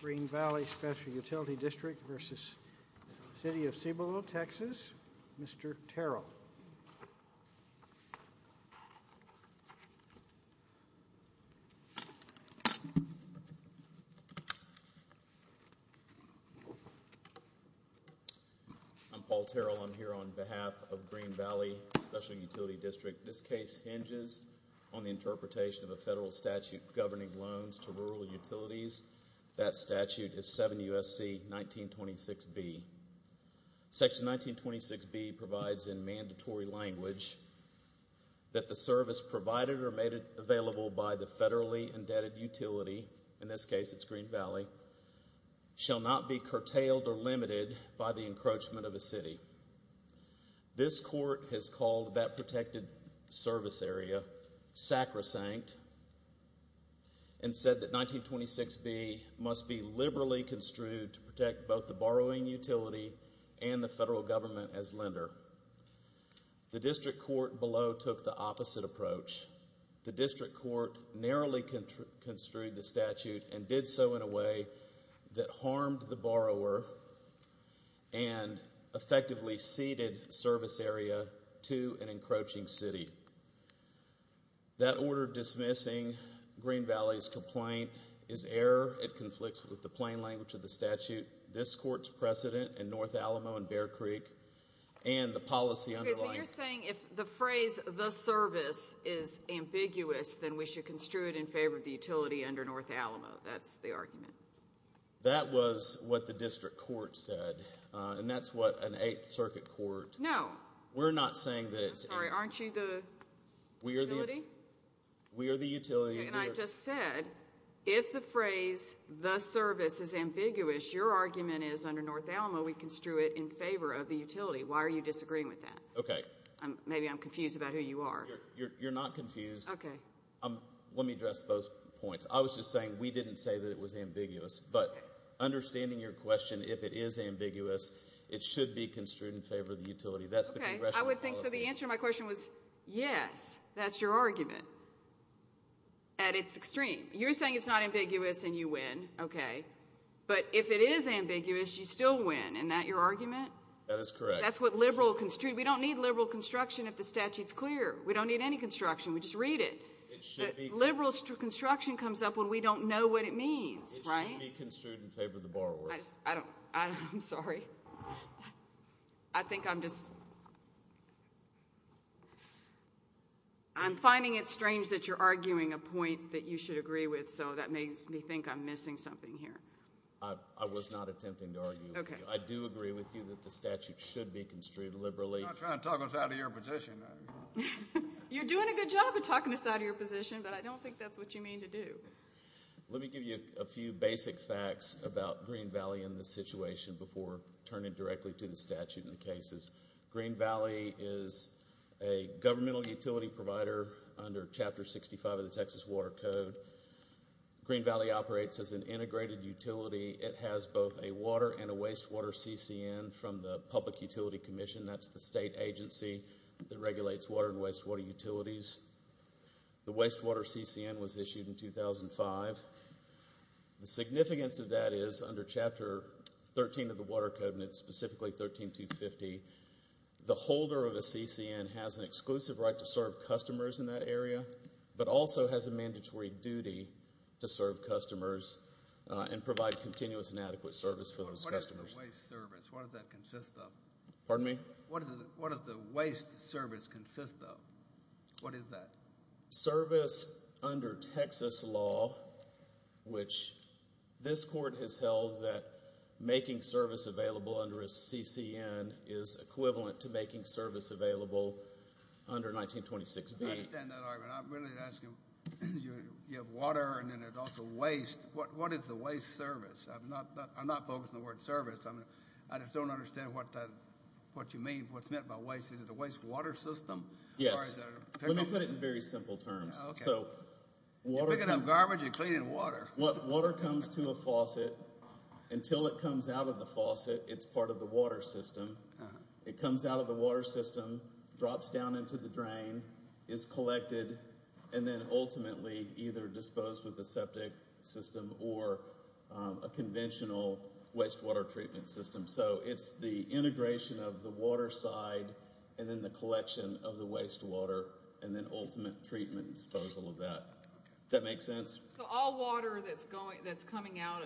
Green Valley Special Utility District v. City of Cibolo, Texas. Mr. Terrell. I'm Paul Terrell. I'm here on behalf of Green Valley Special Utility District. This case hinges on the interpretation of a federal statute governing loans to that statute is 7 U.S.C. 1926b. Section 1926b provides in mandatory language that the service provided or made available by the federally indebted utility, in this case, it's Green Valley, shall not be curtailed or limited by the encroachment of a city. This court has called that protected service area sacrosanct and said that 1926b must be liberally construed to protect both the borrowing utility and the federal government as lender. The district court below took the opposite approach. The district court narrowly construed the statute and did so in a way that harmed the borrower and effectively ceded service area to an encroaching city. That order dismissing Green Valley's complaint is error. It conflicts with the plain language of the statute. This court's precedent in North Alamo and Bear Creek and the policy underlying. You're saying if the phrase the service is ambiguous, then we should construe it in favor of the utility under North Alamo. That's the argument. That was what the district court said, and that's what an eighth circuit court. No. We're not saying that it's. Sorry, aren't you the utility? We are the utility. And I just said if the phrase the service is ambiguous, your argument is under North Alamo we construe it in favor of the utility. Why are you disagreeing with that? Okay. Maybe I'm confused about who you are. You're not confused. Okay. Let me address those points. I was just saying we didn't say that it was ambiguous, but understanding your question, if it is ambiguous, it should be construed in favor of the utility. That's the way I would think. So the answer to my question was, yes, that's your argument. At its extreme, you're saying it's not ambiguous and you win, okay. But if it is ambiguous, you still win. And that your argument? That is correct. That's liberal construed. We don't need liberal construction if the statute is clear. We don't need any construction. We just read it. Liberal construction comes up when we don't know what it means, right? It should be construed in favor of the borrower. I'm sorry. I think I'm finding it strange that you're arguing a point that you should agree with, so that makes me think I'm missing something here. I was not attempting to argue. I do agree with you that statute should be construed liberally. I'm not trying to talk us out of your position. You're doing a good job of talking us out of your position, but I don't think that's what you mean to do. Let me give you a few basic facts about Green Valley in this situation before turning directly to the statute and the cases. Green Valley is a governmental utility provider under Chapter 65 of the Texas Water Code. Green Valley operates as an integrated utility. It has both a public utility commission, that's the state agency that regulates water and wastewater utilities. The wastewater CCN was issued in 2005. The significance of that is under Chapter 13 of the Water Code, and it's specifically 13250, the holder of a CCN has an exclusive right to serve customers in that area, but also has a mandatory duty to serve customers and provide continuous and adequate service for those customers. What is the waste service? What does that consist of? Pardon me? What does the waste service consist of? What is that? Service under Texas law, which this court has held that making service available under a CCN is equivalent to making service available under 1926B. I understand that argument. I'm really asking, you have water and there's also waste. What is the waste service? I'm not focused on the word service. I just don't understand what you mean, what's meant by waste. Is it the wastewater system? Yes. Let me put it in very simple terms. You're picking up garbage, you're cleaning water. Water comes to a faucet. Until it comes out of the faucet, it's part of the water system. It comes out of the water system, drops down into the drain, is collected, and then ultimately either disposed with the septic system or a conventional wastewater treatment system. So it's the integration of the water side and then the collection of the wastewater and then ultimate treatment and disposal of that. Does that make sense? So all water that's coming out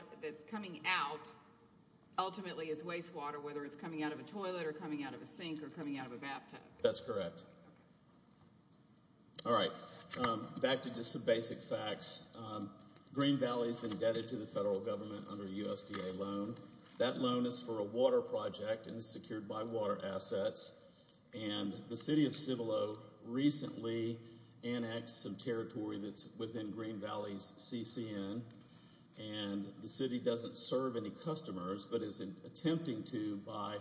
ultimately is wastewater, whether it's coming out of a toilet or coming out of a sink or coming out of a bathtub. That's correct. All right, back to just some basic facts. Green Valley is indebted to the federal government under a USDA loan. That loan is for a water project and is secured by water assets and the city of Cibolo recently annexed some territory that's within Green Valley's CCN and the city doesn't serve any customers but is attempting to by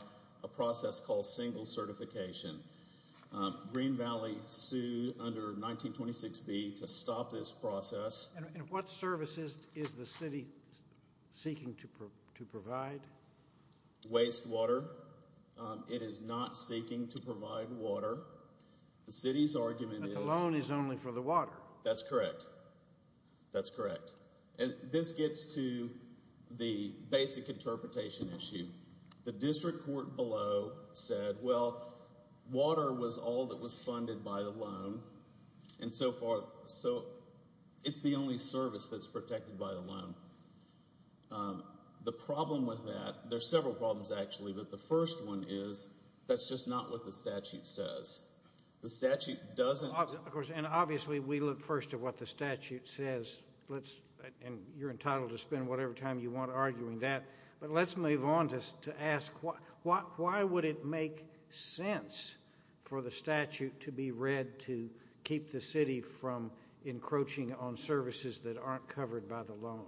a process called single certification. Green Valley sued under 1926B to stop this process. And what services is the city seeking to provide? Wastewater. It is not seeking to provide water. The city's argument is... But the loan is only for the water. That's correct. That's correct. And this gets to the basic interpretation issue. The district court below said, well, water was all that was funded by the loan and so it's the only service that's protected by the loan. The problem with that, there's several problems actually, but the first one is that's just not what the statute says. The statute doesn't... Of course, and obviously we look first at what the statute says, and you're entitled to spend whatever time you want arguing that, but let's move on just to ask why would it make sense for the statute to be read to keep the city from encroaching on services that aren't covered by the loan?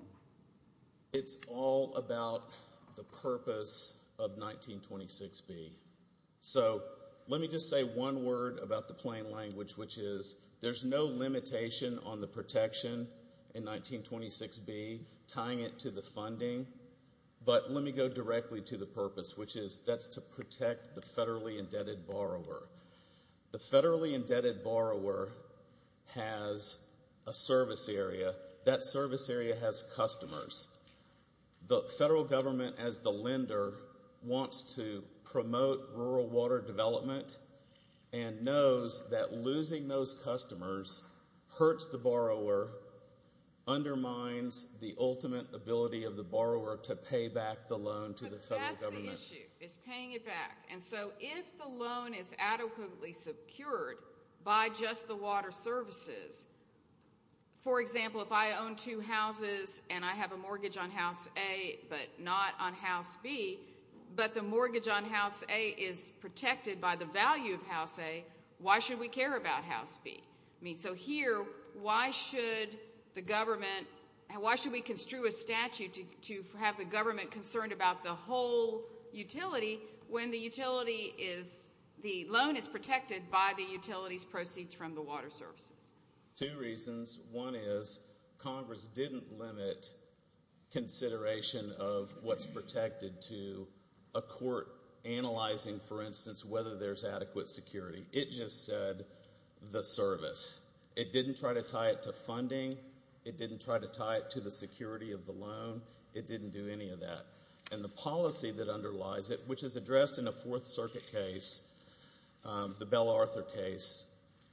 It's all about the purpose of 1926B. So let me just say one word about the plain language, which is there's no limitation on the protection in 1926B tying it to the funding, but let me go directly to the purpose, which is that's to protect the federally indebted borrower. The federally indebted borrower has a service area. That service area has customers. The federal government as the hurts the borrower, undermines the ultimate ability of the borrower to pay back the loan to the federal government. But that's the issue, is paying it back, and so if the loan is adequately secured by just the water services, for example, if I own two houses and I have a mortgage on House A but not on House B, but the mortgage on House A is protected by the value of House A, why should we care about House B? I mean, so here, why should the government, why should we construe a statute to have the government concerned about the whole utility when the utility is, the loan is protected by the utility's proceeds from the water services? Two reasons. One is Congress didn't limit consideration of what's protected to a court analyzing, for instance, whether there's adequate security. It just said the service. It didn't try to tie it to funding. It didn't try to tie it to the security of the loan. It didn't do any of that. And the policy that underlies it, which is addressed in a Fourth Circuit case, the BellArthur case,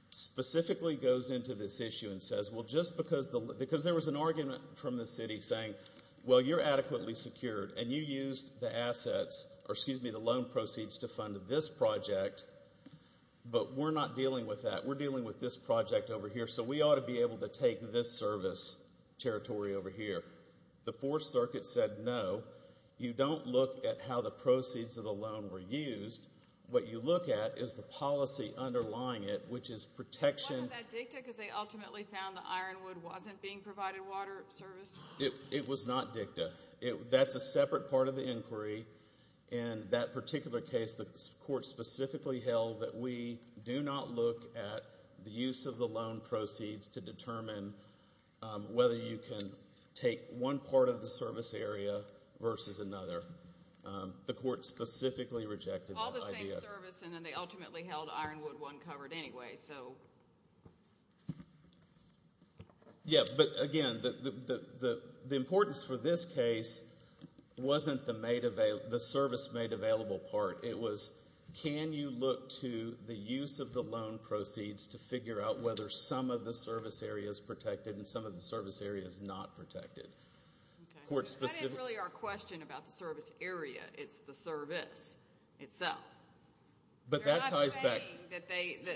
specifically goes into this issue and says, well, just because the, because there was an argument from the city saying, well, you're adequately secured and you used the assets, or excuse me, loan proceeds to fund this project, but we're not dealing with that. We're dealing with this project over here, so we ought to be able to take this service territory over here. The Fourth Circuit said, no, you don't look at how the proceeds of the loan were used. What you look at is the policy underlying it, which is protection. Wasn't that dicta because they ultimately found the Ironwood wasn't being provided water service? It was not dicta. That's a separate part of the particular case that the court specifically held that we do not look at the use of the loan proceeds to determine whether you can take one part of the service area versus another. The court specifically rejected that idea. All the same service, and then they ultimately held Ironwood wasn't covered anyway, so. Yeah, but again, the importance for this case wasn't the service made available part. It was, can you look to the use of the loan proceeds to figure out whether some of the service area is protected and some of the service area is not protected? That isn't really our question about the service area. It's the service itself. But that ties back.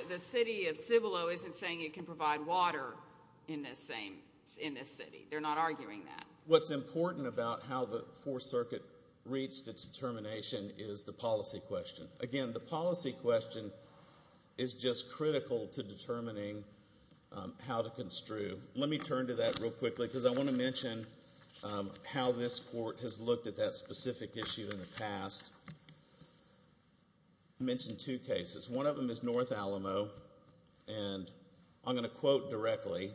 The city of Cibolo isn't saying it can provide water in this city. They're not arguing that. What's important about how the Fourth Circuit reached its determination is the policy question. Again, the policy question is just critical to determining how to construe. Let me turn to that real quickly because I want to mention how this court has looked at that specific issue in the past. Mentioned two cases. One of them is North Alamo, and I'm going to quote directly,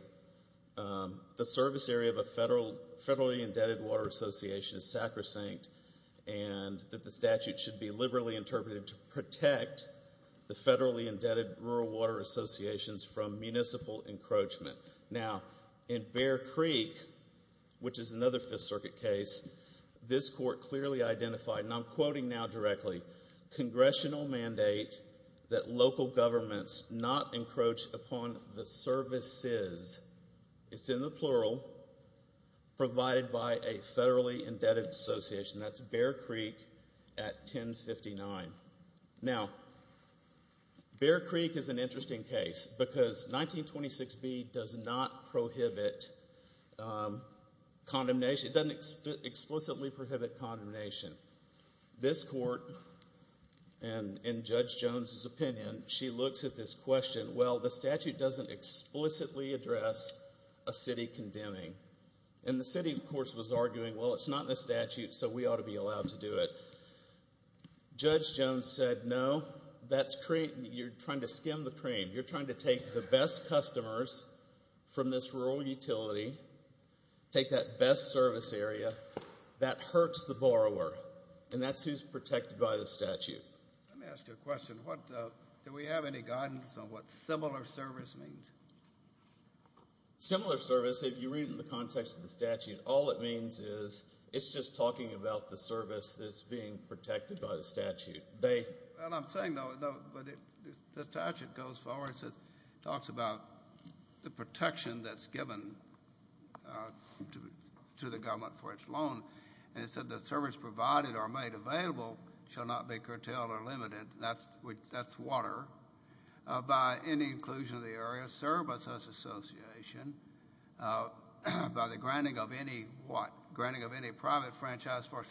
the service area of a federally indebted water association is sacrosanct, and that the statute should be liberally interpreted to protect the federally indebted rural water associations from municipal encroachment. Now, in Bear Creek, which is another Fifth Circuit case, this court clearly identified, and I'm quoting now directly, congressional mandate that local governments not encroach upon the services, it's in the plural, provided by a federally indebted association. That's Bear Creek at 1059. Now, Bear Creek is an interesting case because 1926B does not prohibit condemnation. It doesn't explicitly prohibit condemnation. This court, and in Judge Jones' opinion, she looks at this question, well, the statute doesn't explicitly address a city condemning. And the city, of course, was arguing, well, it's not in the statute, so we ought to be allowed to do it. Judge Jones said, no, you're trying to skim the cream. You're trying to take the best customers from this rural utility, take that best service area. That hurts the borrower, and that's who's protected by the statute. Let me ask you a question. Do we have any guidance on what similar service means? Similar service, if you read it in the context of the statute, all it means is it's just talking about the service that's being protected by the statute. Well, I'm saying, though, the statute goes forward and talks about the protection that's given to the government for its loan, and it said the service provided or made available shall not be curtailed or limited. That's water. By any inclusion of the area, served by such association, by the granting of any what? Granting of any private franchise for it.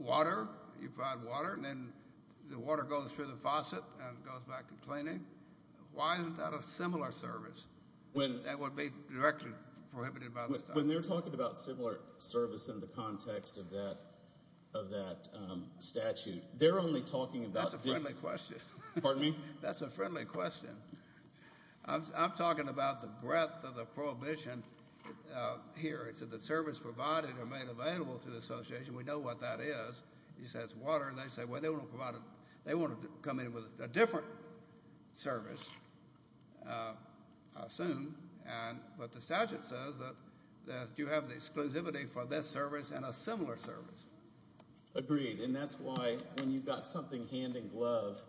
Water goes through the faucet and goes back to cleaning. Why isn't that a similar service that would be directly prohibited by the statute? When they're talking about similar service in the context of that statute, they're only talking about... That's a friendly question. Pardon me? That's a friendly question. I'm talking about the breadth of the prohibition here. It said the service provided or made available to the association, we know what that is. It says water, and they say, well, they want to come in with a different service soon, but the statute says that you have the exclusivity for this service and a similar service. Agreed, and that's why when you've got something hand in glove,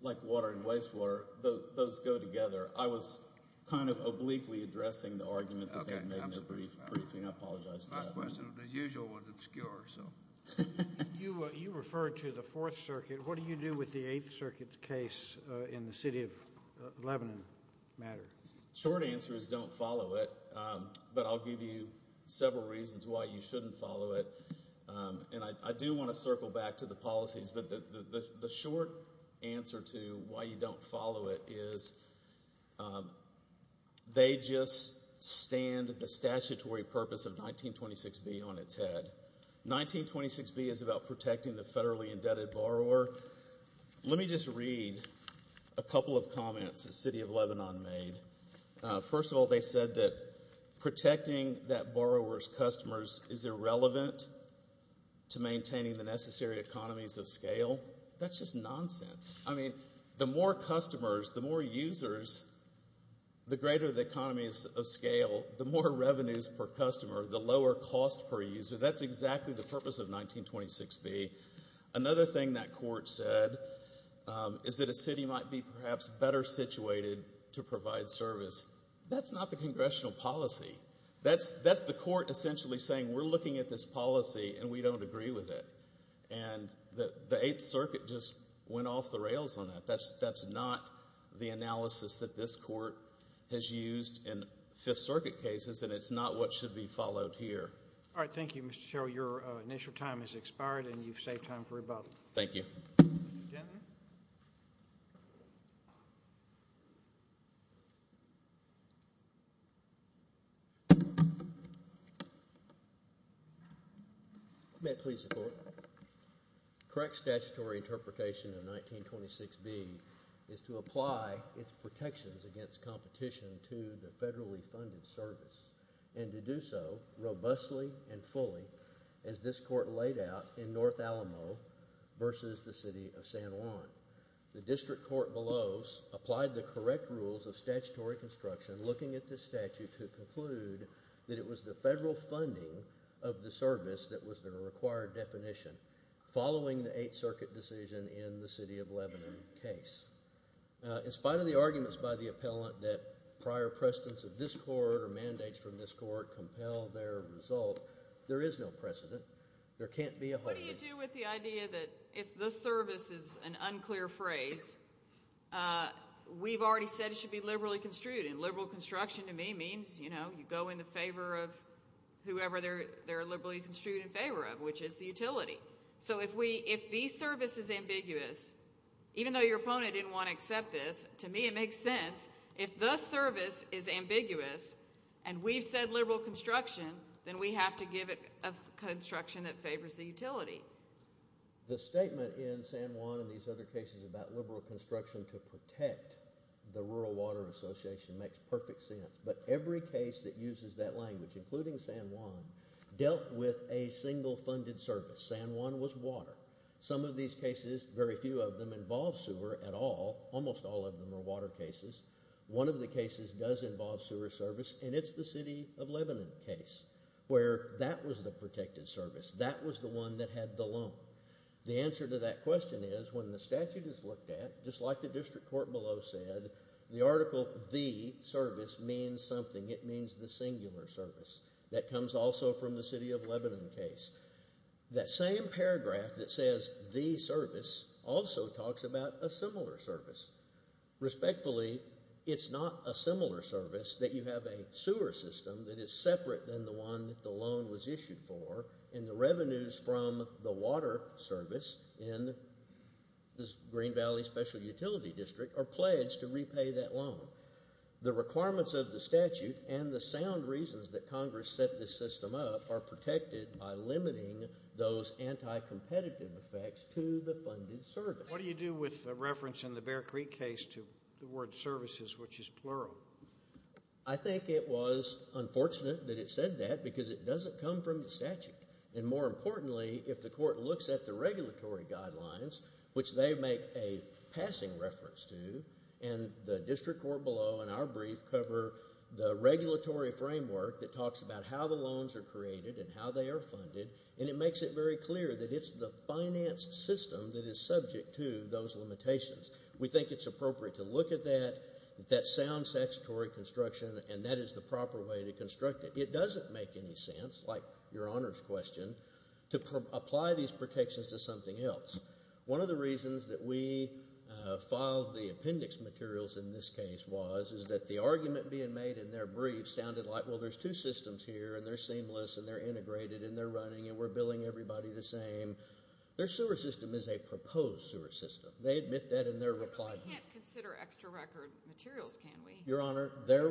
like water and wastewater, those go together. I was kind of obliquely addressing the argument that they made in question, as usual, was obscure. You referred to the Fourth Circuit. What do you do with the Eighth Circuit case in the city of Lebanon matter? Short answer is don't follow it, but I'll give you several reasons why you shouldn't follow it. I do want to circle back to the policies, but the short answer to why you don't follow it is they just stand the statutory purpose of 1926B on its head. 1926B is about protecting the federally indebted borrower. Let me just read a couple of comments the city of Lebanon made. First of all, they said that protecting that borrower's customers is irrelevant to maintaining the necessary economies of scale. That's just nonsense. I mean, the more customers, the more users, the greater the economies of scale, the more revenues per customer, the lower cost per user. That's exactly the purpose of 1926B. Another thing that court said is that a city might be perhaps better situated to provide service. That's not the congressional policy. That's the court essentially saying we're looking at this policy and we don't agree with it, and the Eighth Circuit just went off the rails on that. That's not the analysis that this court has used in Fifth Circuit cases, and it's not what should be followed here. All right. Thank you, Mr. Terrell. Your initial time has expired and you've saved time for rebuttal. Thank you. Mr. Jentleman. May it please the court. The correct statutory interpretation of 1926B is to apply its protections against competition to the federally funded service and to do so robustly and fully as this court laid out in North Alamo versus the city of San Juan. The district court below applied the correct rules of statutory construction looking at this statute to conclude that it was the federal funding of the service that was the required definition following the Eighth Circuit decision in the city of Lebanon case. In spite of the arguments by the appellant that prior precedents of this court or mandates from this court compel their result, there is no precedent. There can't be a... What do you do with the idea that if the service is an unclear phrase, we've already said it should be liberally construed, and liberal construction to me means, you know, you go in the favor of whoever they're liberally construed in favor of, which is the utility. So if these services are ambiguous, even though your opponent didn't want to accept this, to me it makes sense. If the service is ambiguous and we've said liberal construction, then we have to give it a construction that favors the utility. The statement in San Juan and these other cases about liberal construction to protect the Rural Water Association makes perfect sense. But every case that uses that language, including San Juan, dealt with a single funded service. San Juan was water. Some of these cases, very few of them, involve sewer at all. Almost all of them are water cases. One of the cases does involve sewer service, and it's the City of Lebanon case, where that was the protected service. That was the one that had the loan. The answer to that question is, when the statute is looked at, just like the district court below said, the article, the service, means something. It means the singular service. That comes also from the City of Lebanon case. That same paragraph that that you have a sewer system that is separate than the one that the loan was issued for, and the revenues from the water service in the Green Valley Special Utility District are pledged to repay that loan. The requirements of the statute and the sound reasons that Congress set this system up are protected by limiting those anti-competitive effects to the funded service. What do you do with the reference in the Bear Creek case to the word services, which is plural? I think it was unfortunate that it said that, because it doesn't come from the statute. And more importantly, if the court looks at the regulatory guidelines, which they make a passing reference to, and the district court below and our brief cover the regulatory framework that talks about how the loans are created and how they are funded, and it makes it very clear that it's the finance system that is subject to those limitations. We think it's appropriate to look at that sound statutory construction and that is the proper way to construct it. It doesn't make any sense, like your Honor's question, to apply these protections to something else. One of the reasons that we filed the appendix materials in this case was that the argument being made in their brief sounded like, well, there's two systems here and they're seamless and they're integrated and they're running and we're billing everybody the same. Their sewer system is a record materials, can we? Your Honor, they're...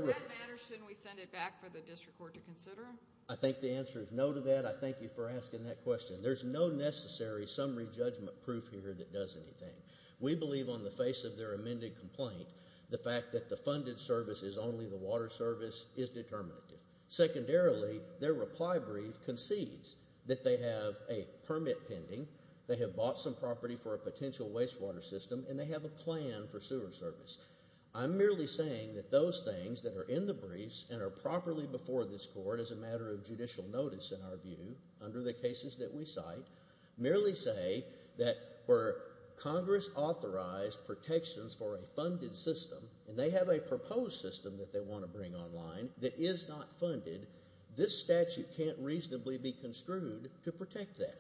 shouldn't we send it back for the district court to consider? I think the answer is no to that. I thank you for asking that question. There's no necessary summary judgment proof here that does anything. We believe on the face of their amended complaint, the fact that the funded service is only the water service is determinative. Secondarily, their reply brief concedes that they have a permit pending, they have bought some I'm merely saying that those things that are in the briefs and are properly before this court as a matter of judicial notice in our view, under the cases that we cite, merely say that where Congress authorized protections for a funded system and they have a proposed system that they want to bring online that is not funded, this statute can't reasonably be construed to protect that.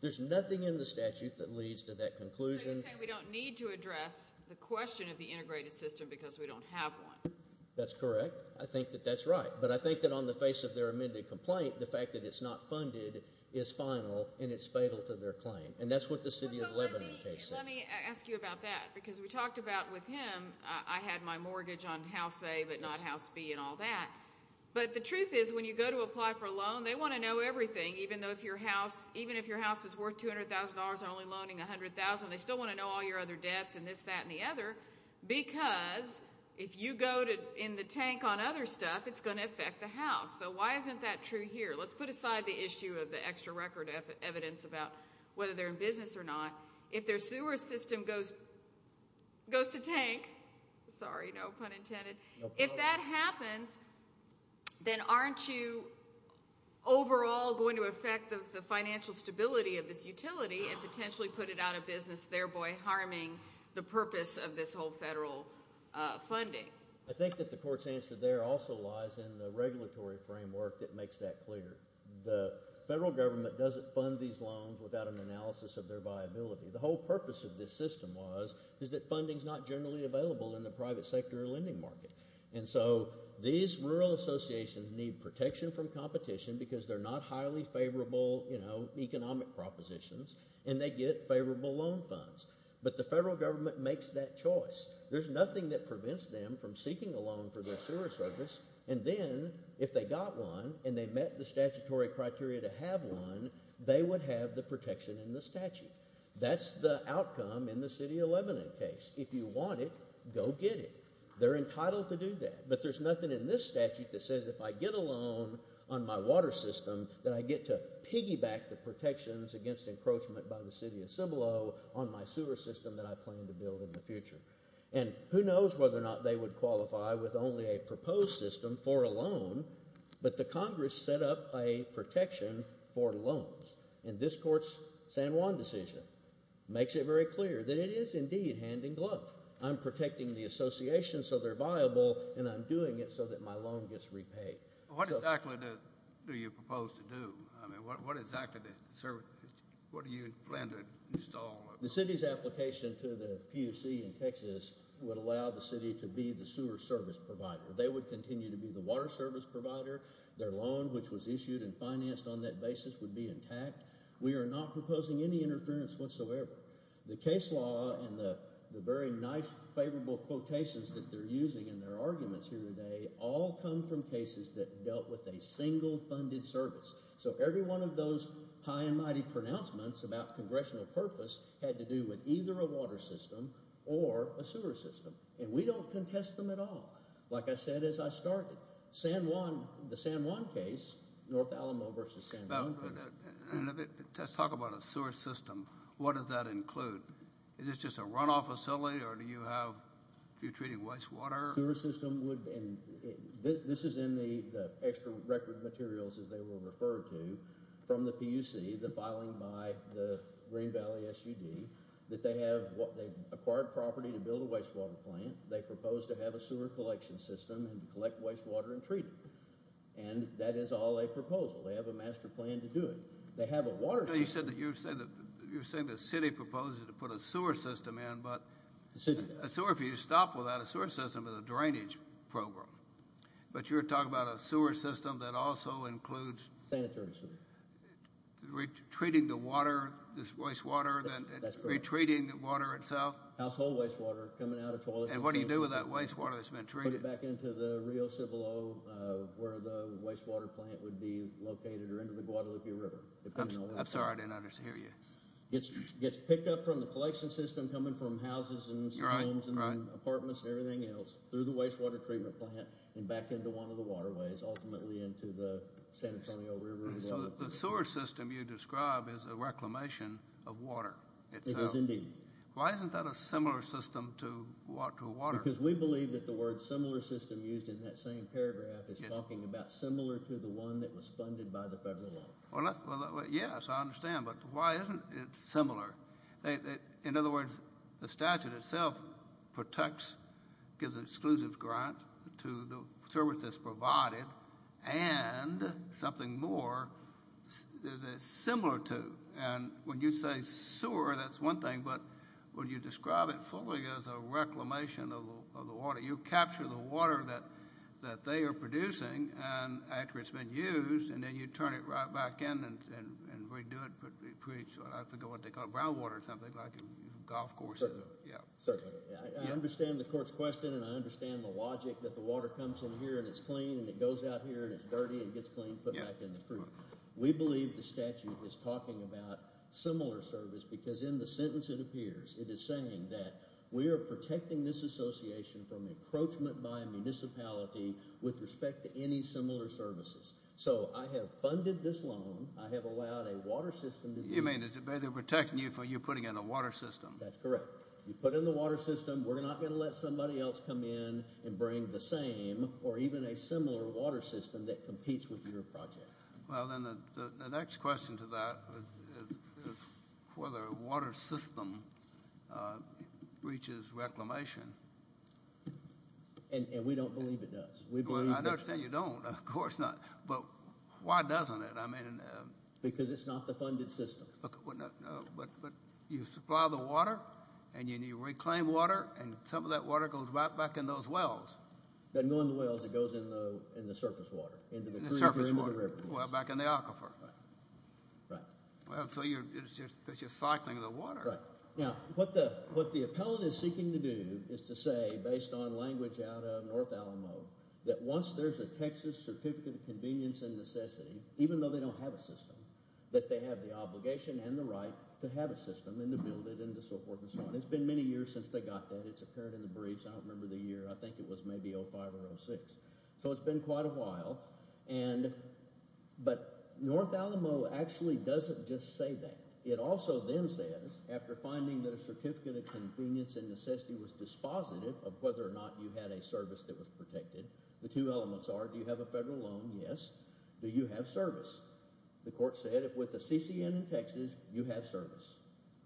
There's nothing in the statute that leads to that conclusion. So you're saying we don't need to address the question of the integrated system because we don't have one? That's correct. I think that that's right. But I think that on the face of their amended complaint, the fact that it's not funded is final and it's fatal to their claim. And that's what the City of Lebanon case says. Let me ask you about that because we talked about with him, I had my mortgage on House A but not House B and all that. But the truth is when you go to apply for a loan, they want to know everything even though if your house, even if your house is worth $200,000 and only $100,000, they still want to know all your other debts and this, that and the other because if you go to in the tank on other stuff, it's going to affect the house. So why isn't that true here? Let's put aside the issue of the extra record evidence about whether they're in business or not. If their sewer system goes to tank, sorry, no pun intended. If that happens, then aren't you it out of business, thereby harming the purpose of this whole federal funding? I think that the court's answer there also lies in the regulatory framework that makes that clear. The federal government doesn't fund these loans without an analysis of their viability. The whole purpose of this system was is that funding is not generally available in the private sector or lending market. And so these rural associations need protection from competition because they're not highly favorable, you know, economic propositions and they get favorable loan funds. But the federal government makes that choice. There's nothing that prevents them from seeking a loan for their sewer service and then if they got one and they met the statutory criteria to have one, they would have the protection in the statute. That's the outcome in the City of Lebanon case. If you want it, go get it. They're entitled to do that. But there's nothing in this statute that says if I get a loan on my water system that I get to piggyback the protections against encroachment by the City of Cibolo on my sewer system that I plan to build in the future. And who knows whether or not they would qualify with only a proposed system for a loan, but the Congress set up a protection for loans. And this court's San Juan decision makes it very clear that it is indeed hand in glove. I'm protecting the association so they're viable and I'm doing it so that my loan gets repaid. What exactly do you propose to do? I mean, what exactly do you plan to install? The City's application to the PUC in Texas would allow the City to be the sewer service provider. They would continue to be the water service provider. Their loan, which was issued and financed on that basis, would be intact. We are not proposing any interference whatsoever. The case law and the very nice, favorable quotations that they're using in their arguments here today all come from cases that dealt with a single funded service. So every one of those high and mighty pronouncements about congressional purpose had to do with either a water system or a sewer system. And we don't contest them at all. Like I said as I started, San Juan, the San Juan case, North Alamo versus San Juan. Let's talk about a sewer system. What does that include? Is this just a runoff facility or do you treat it as wastewater? This is in the extra record materials, as they were referred to, from the PUC, the filing by the Green Valley SUD, that they acquired property to build a wastewater plant. They proposed to have a sewer collection system and collect wastewater and treat it. And that is all a proposal. They have a master plan to do it. They have a water system. You said that you're saying that you're saying the city proposes to put a sewer system in, but a sewer, if you stop without a sewer system, is a drainage program. But you're talking about a sewer system that also includes... Sanitary system. ...treating the water, this wastewater, then retreating the water itself? Household wastewater coming out of toilets. And what do you do with that wastewater that's been treated? Put it back into the Rio Cibolo, where the wastewater plant would be located, or into the Guadalupe River, depending on... I'm sorry, I didn't understand you. It gets picked up from the collection system, coming from houses and homes and apartments and everything else, through the wastewater treatment plant and back into one of the waterways, ultimately into the San Antonio River. The sewer system you describe is a reclamation of water. It is indeed. Why isn't that a similar system to water? Because we believe that the word similar system used in that same paragraph is similar to the one that was funded by the federal law. Yes, I understand, but why isn't it similar? In other words, the statute itself protects, gives an exclusive grant to the service that's provided and something more similar to. And when you say sewer, that's one thing, but when you describe it fully as a reclamation of the water, you capture the water that they are producing, and after it's been used, and then you turn it right back in and redo it. I forget what they call it, brown water or something, like a golf course. Certainly, I understand the court's question and I understand the logic that the water comes in here and it's clean and it goes out here and it's dirty and gets cleaned, put back in the creek. We believe the statute is talking about similar service because in the sentence it appears, it is saying that we are protecting this association from encroachment by a municipality with respect to any similar services. So I have funded this loan. I have allowed a water system. You mean they're protecting you for you putting in a water system? That's correct. You put in the water system. We're not going to let somebody else come in and bring the same or even a similar water system that competes with your project. Well, then the next question to that is whether a water system breaches reclamation. And we don't believe it does. I understand you don't, of course not, but why doesn't it? Because it's not the funded system. But you supply the water, and you reclaim water, and some of that water goes right back in those wells. Then going in the wells, it goes in the surface water? In the surface water. Well, back in the aquifer. Right. So you're just cycling the water. Right. Now, what the appellant is seeking to do is to say, based on language out of North Alamo, that once there's a Texas Certificate of Convenience and Necessity, even though they don't have a system, that they have the obligation and the right to have a system and to build it and so forth and so on. It's been many years since they got that. It's appeared in the briefs. I don't remember the year. I think it was maybe 05 or 06. So it's been quite a while. But North Alamo actually doesn't just say that. It also then says, after finding that a Certificate of Convenience and Necessity was dispositive of whether or not you had a service that was protected, the two elements are, do you have a federal loan? Yes. Do you have service? The court said, if with the CCN in Texas, you have service.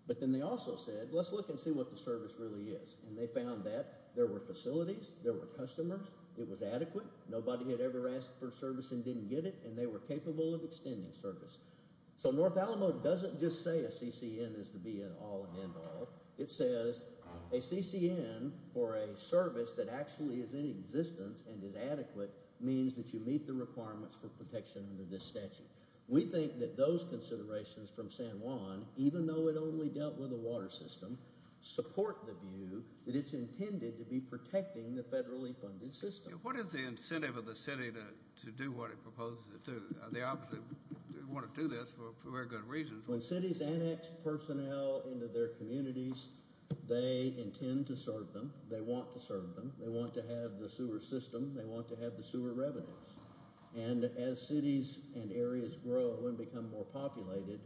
But then they also said, let's look and see what the service really is. And they found that there were facilities, there were customers, it was adequate, nobody had ever asked for service and didn't get it, and they were capable of extending service. So North Alamo doesn't just say a CCN is the be-all and end-all. It says, a CCN for a service that actually is in existence and is adequate means that you meet the requirements for protection under this statute. We think that those considerations from San Juan, even though it only dealt with the water system, support the view that it's intended to be protecting the federally funded system. What is the incentive of the city to do what it proposes to do? They obviously want to do this for very good reasons. When cities annex personnel into their communities, they intend to serve them, they want to serve them, they want to have the sewer system, they want to have the sewer revenues. And as cities and areas grow and become more populated,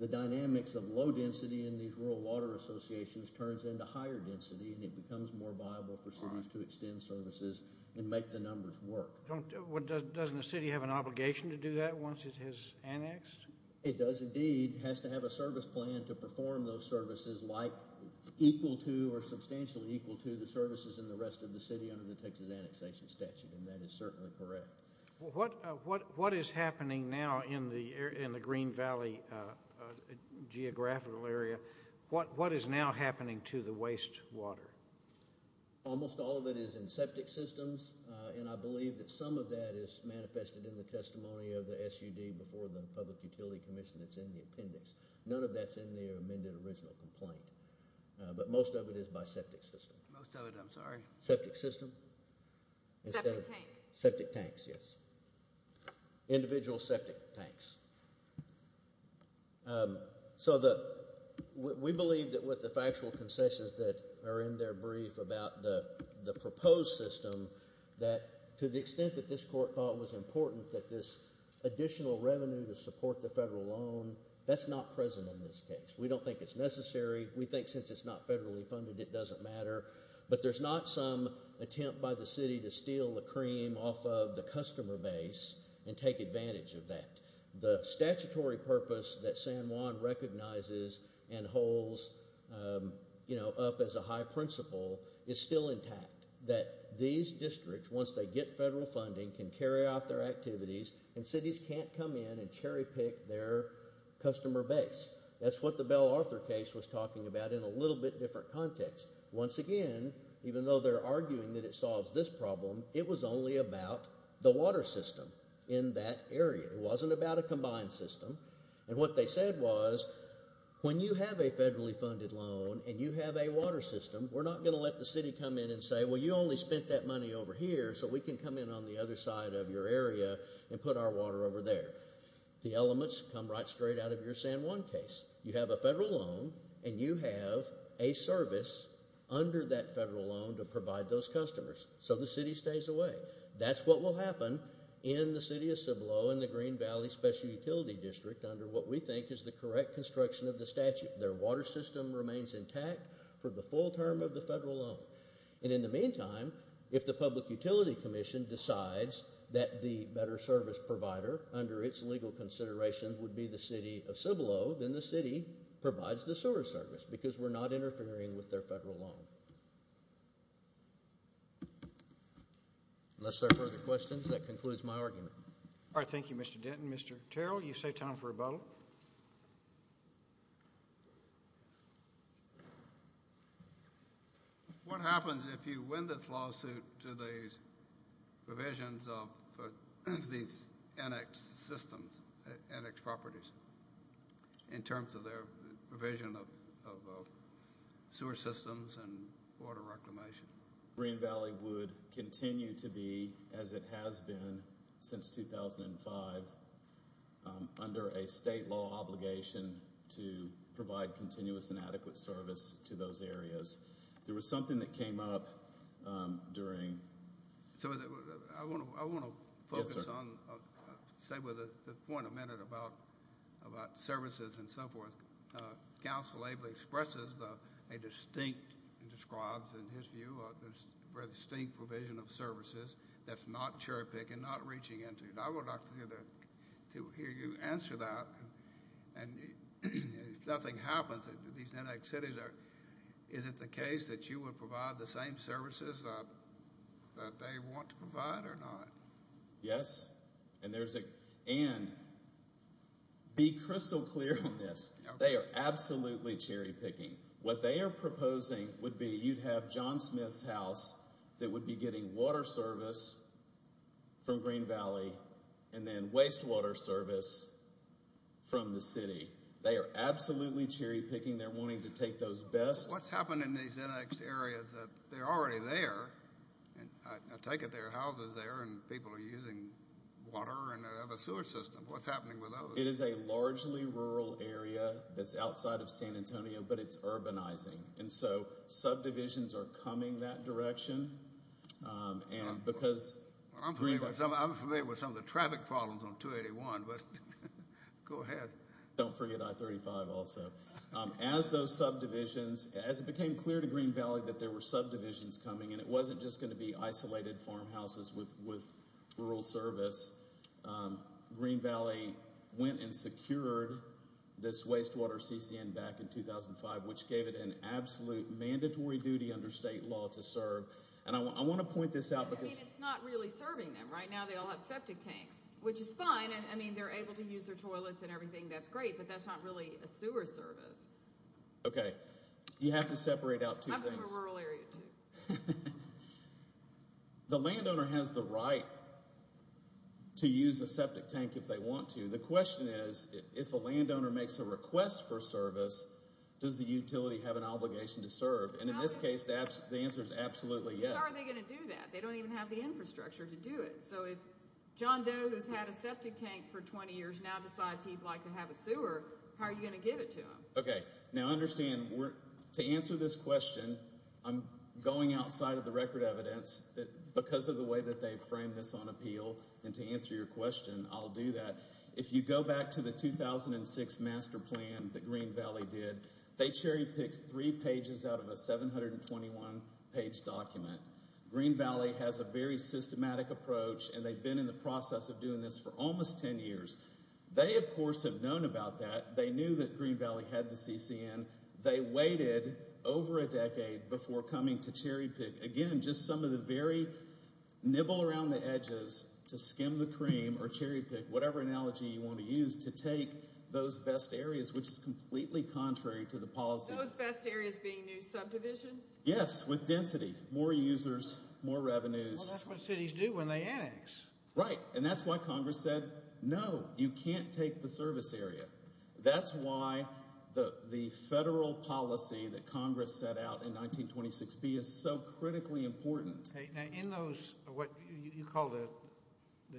the dynamics of low density in these rural water associations turns into higher density, and it becomes more viable for cities to extend services and make the numbers work. Doesn't the city have an obligation to do that once it has annexed? It does indeed. It has to have a service plan to perform those services like equal to or that is certainly correct. What is happening now in the Green Valley geographical area? What is now happening to the wastewater? Almost all of it is in septic systems, and I believe that some of that is manifested in the testimony of the SUD before the Public Utility Commission that's in the appendix. None of that's in the amended original complaint, but most of it is by septic system. Most of it, I'm sorry. Septic system? Septic tanks. Septic tanks, yes. Individual septic tanks. We believe that with the factual concessions that are in their brief about the proposed system, that to the extent that this court thought it was important that this additional revenue to support the federal loan, that's not present in this case. We don't think it's necessary. We think since it's not federally funded, it doesn't matter, but there's not some attempt by the city to steal the cream off of the customer base and take advantage of that. The statutory purpose that San Juan recognizes and holds up as a high principle is still intact. That these districts, once they get federal funding, can carry out their activities and cities can't come in and cherry pick their customer base. That's what the Bell Arthur case was talking about in a little bit different context. Once again, even though they're arguing that it solves this problem, it was only about the water system in that area. It wasn't about a combined system. And what they said was, when you have a federally funded loan and you have a water system, we're not going to let the city come in and say, well, you only spent that money over here, so we can come on the other side of your area and put our water over there. The elements come right straight out of your San Juan case. You have a federal loan and you have a service under that federal loan to provide those customers, so the city stays away. That's what will happen in the city of Cibolo and the Green Valley Special Utility District under what we think is the correct construction of the statute. Their water system remains intact for the full term of the federal loan. And in the meantime, if the Public Utility Commission decides that the better service provider under its legal consideration would be the city of Cibolo, then the city provides the sewer service because we're not interfering with their federal loan. Unless there are further questions, that concludes my argument. All right, thank you, Mr. Denton. Mr. Terrell, you've saved time for a vote. What happens if you win this lawsuit to these provisions of these annex systems, annex properties, in terms of their provision of sewer systems and water reclamation? Green Valley would continue to be, as it has been since 2005, under a state law obligation to provide continuous and adequate service to those areas. There was something that came up during... I want to focus on, stay with the point a minute about services and so forth. Council Abel expresses a distinct, describes in his view, a very distinct provision of services that's not cherry-picked and not reaching into it. I would like to hear you answer that. And if nothing happens, these annex cities, is it the case that you would provide the same services that they want to provide or not? Yes. And be crystal clear on this. They are absolutely cherry-picking. What they are proposing would be you'd have John Smith's house that would be getting water service from Green Valley and then wastewater service from the city. They are absolutely cherry-picking. They're wanting to take those best... What's happened in these annexed areas is that they're already there. I take it there are houses there and people are using water and have a sewer system. What's happening with those? It is a largely rural area that's outside of San Antonio, but it's urbanizing. And so subdivisions are coming that direction because... I'm familiar with some of the traffic problems on 281, but go ahead. Don't forget I-35 also. As those subdivisions, as it became clear to Green Valley that there were subdivisions coming and it wasn't just going to be isolated farmhouses with rural service, Green Valley went and secured this wastewater CCN back in 2005, which gave it an absolute mandatory duty under state law to serve. And I want to point this out because... I mean, it's not really serving them. Right now they all have septic tanks, which is fine. I mean, they're able to use their toilets and everything. That's great, but that's not really a sewer service. Okay. You have to separate out two things. The landowner has the right to use a septic tank if they want to. The question is, if a landowner makes a request for service, does the utility have an obligation to serve? And in this case, the answer is absolutely yes. How are they going to do that? They don't even have the infrastructure to do it. So if John Doe, who's had a septic tank for 20 years, now decides he'd like to have a sewer, how are you going to give it to him? Okay. Now understand, to answer this question, I'm going outside of the record evidence. Because of the way that they framed this on appeal, and to answer your question, I'll do that. If you go back to the 2006 master plan that Green Valley did, they cherry picked three pages out of a 721-page document. Green Valley has a very systematic approach, and they've been in the process of doing this for almost 10 years. They, of course, have known about that. They knew that Green Valley had the CCN. They waited over a decade before coming to cherry pick, again, just some of the very nibble around the edges to skim the cream or cherry pick, whatever analogy you want to use, to take those best areas, which is completely contrary to the policy. Those best areas being new subdivisions? Yes, with density, more users, more revenues. That's what cities do when they annex. Right. And that's why Congress said, no, you can't take the service area. That's why the federal policy that Congress set out in 1926B is so critically important. In those, what you call the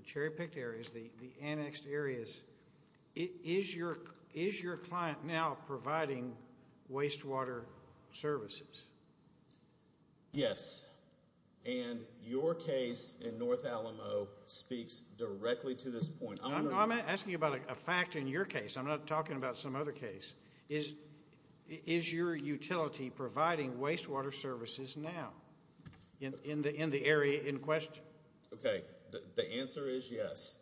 cherry picked areas, the annexed areas, is your client now providing wastewater services? Yes, and your case in North Alamo speaks directly to this point. I'm asking about a fact in your case. I'm not talking about some other case. Is your utility providing wastewater services now in the area in question? Okay, the answer is yes.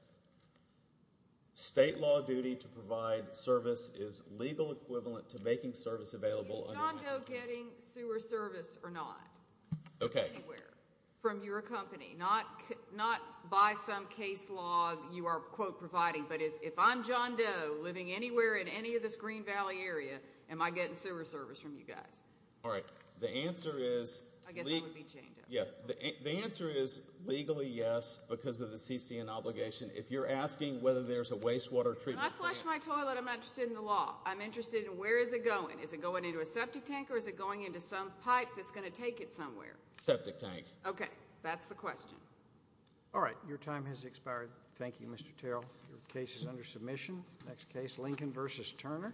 State law duty to provide service is legal equivalent to making service available. Is John Doe getting sewer service or not? Okay. From your company, not by some case law you are quote providing, but if I'm John Doe living anywhere in any of this Green Valley area, am I getting sewer service from you guys? All right. The answer is legally yes because of the CCN obligation. If you're asking whether there's a wastewater treatment plant. When I flush my toilet, I'm not interested in the law. I'm interested in where is it going? Is it going into a septic tank or is it going into some pipe that's going to take it somewhere? Septic tank. Okay, that's the question. All right, your time has expired. Thank you, Mr. Terrell. Your case is under submission. Next case, Lincoln versus Turner.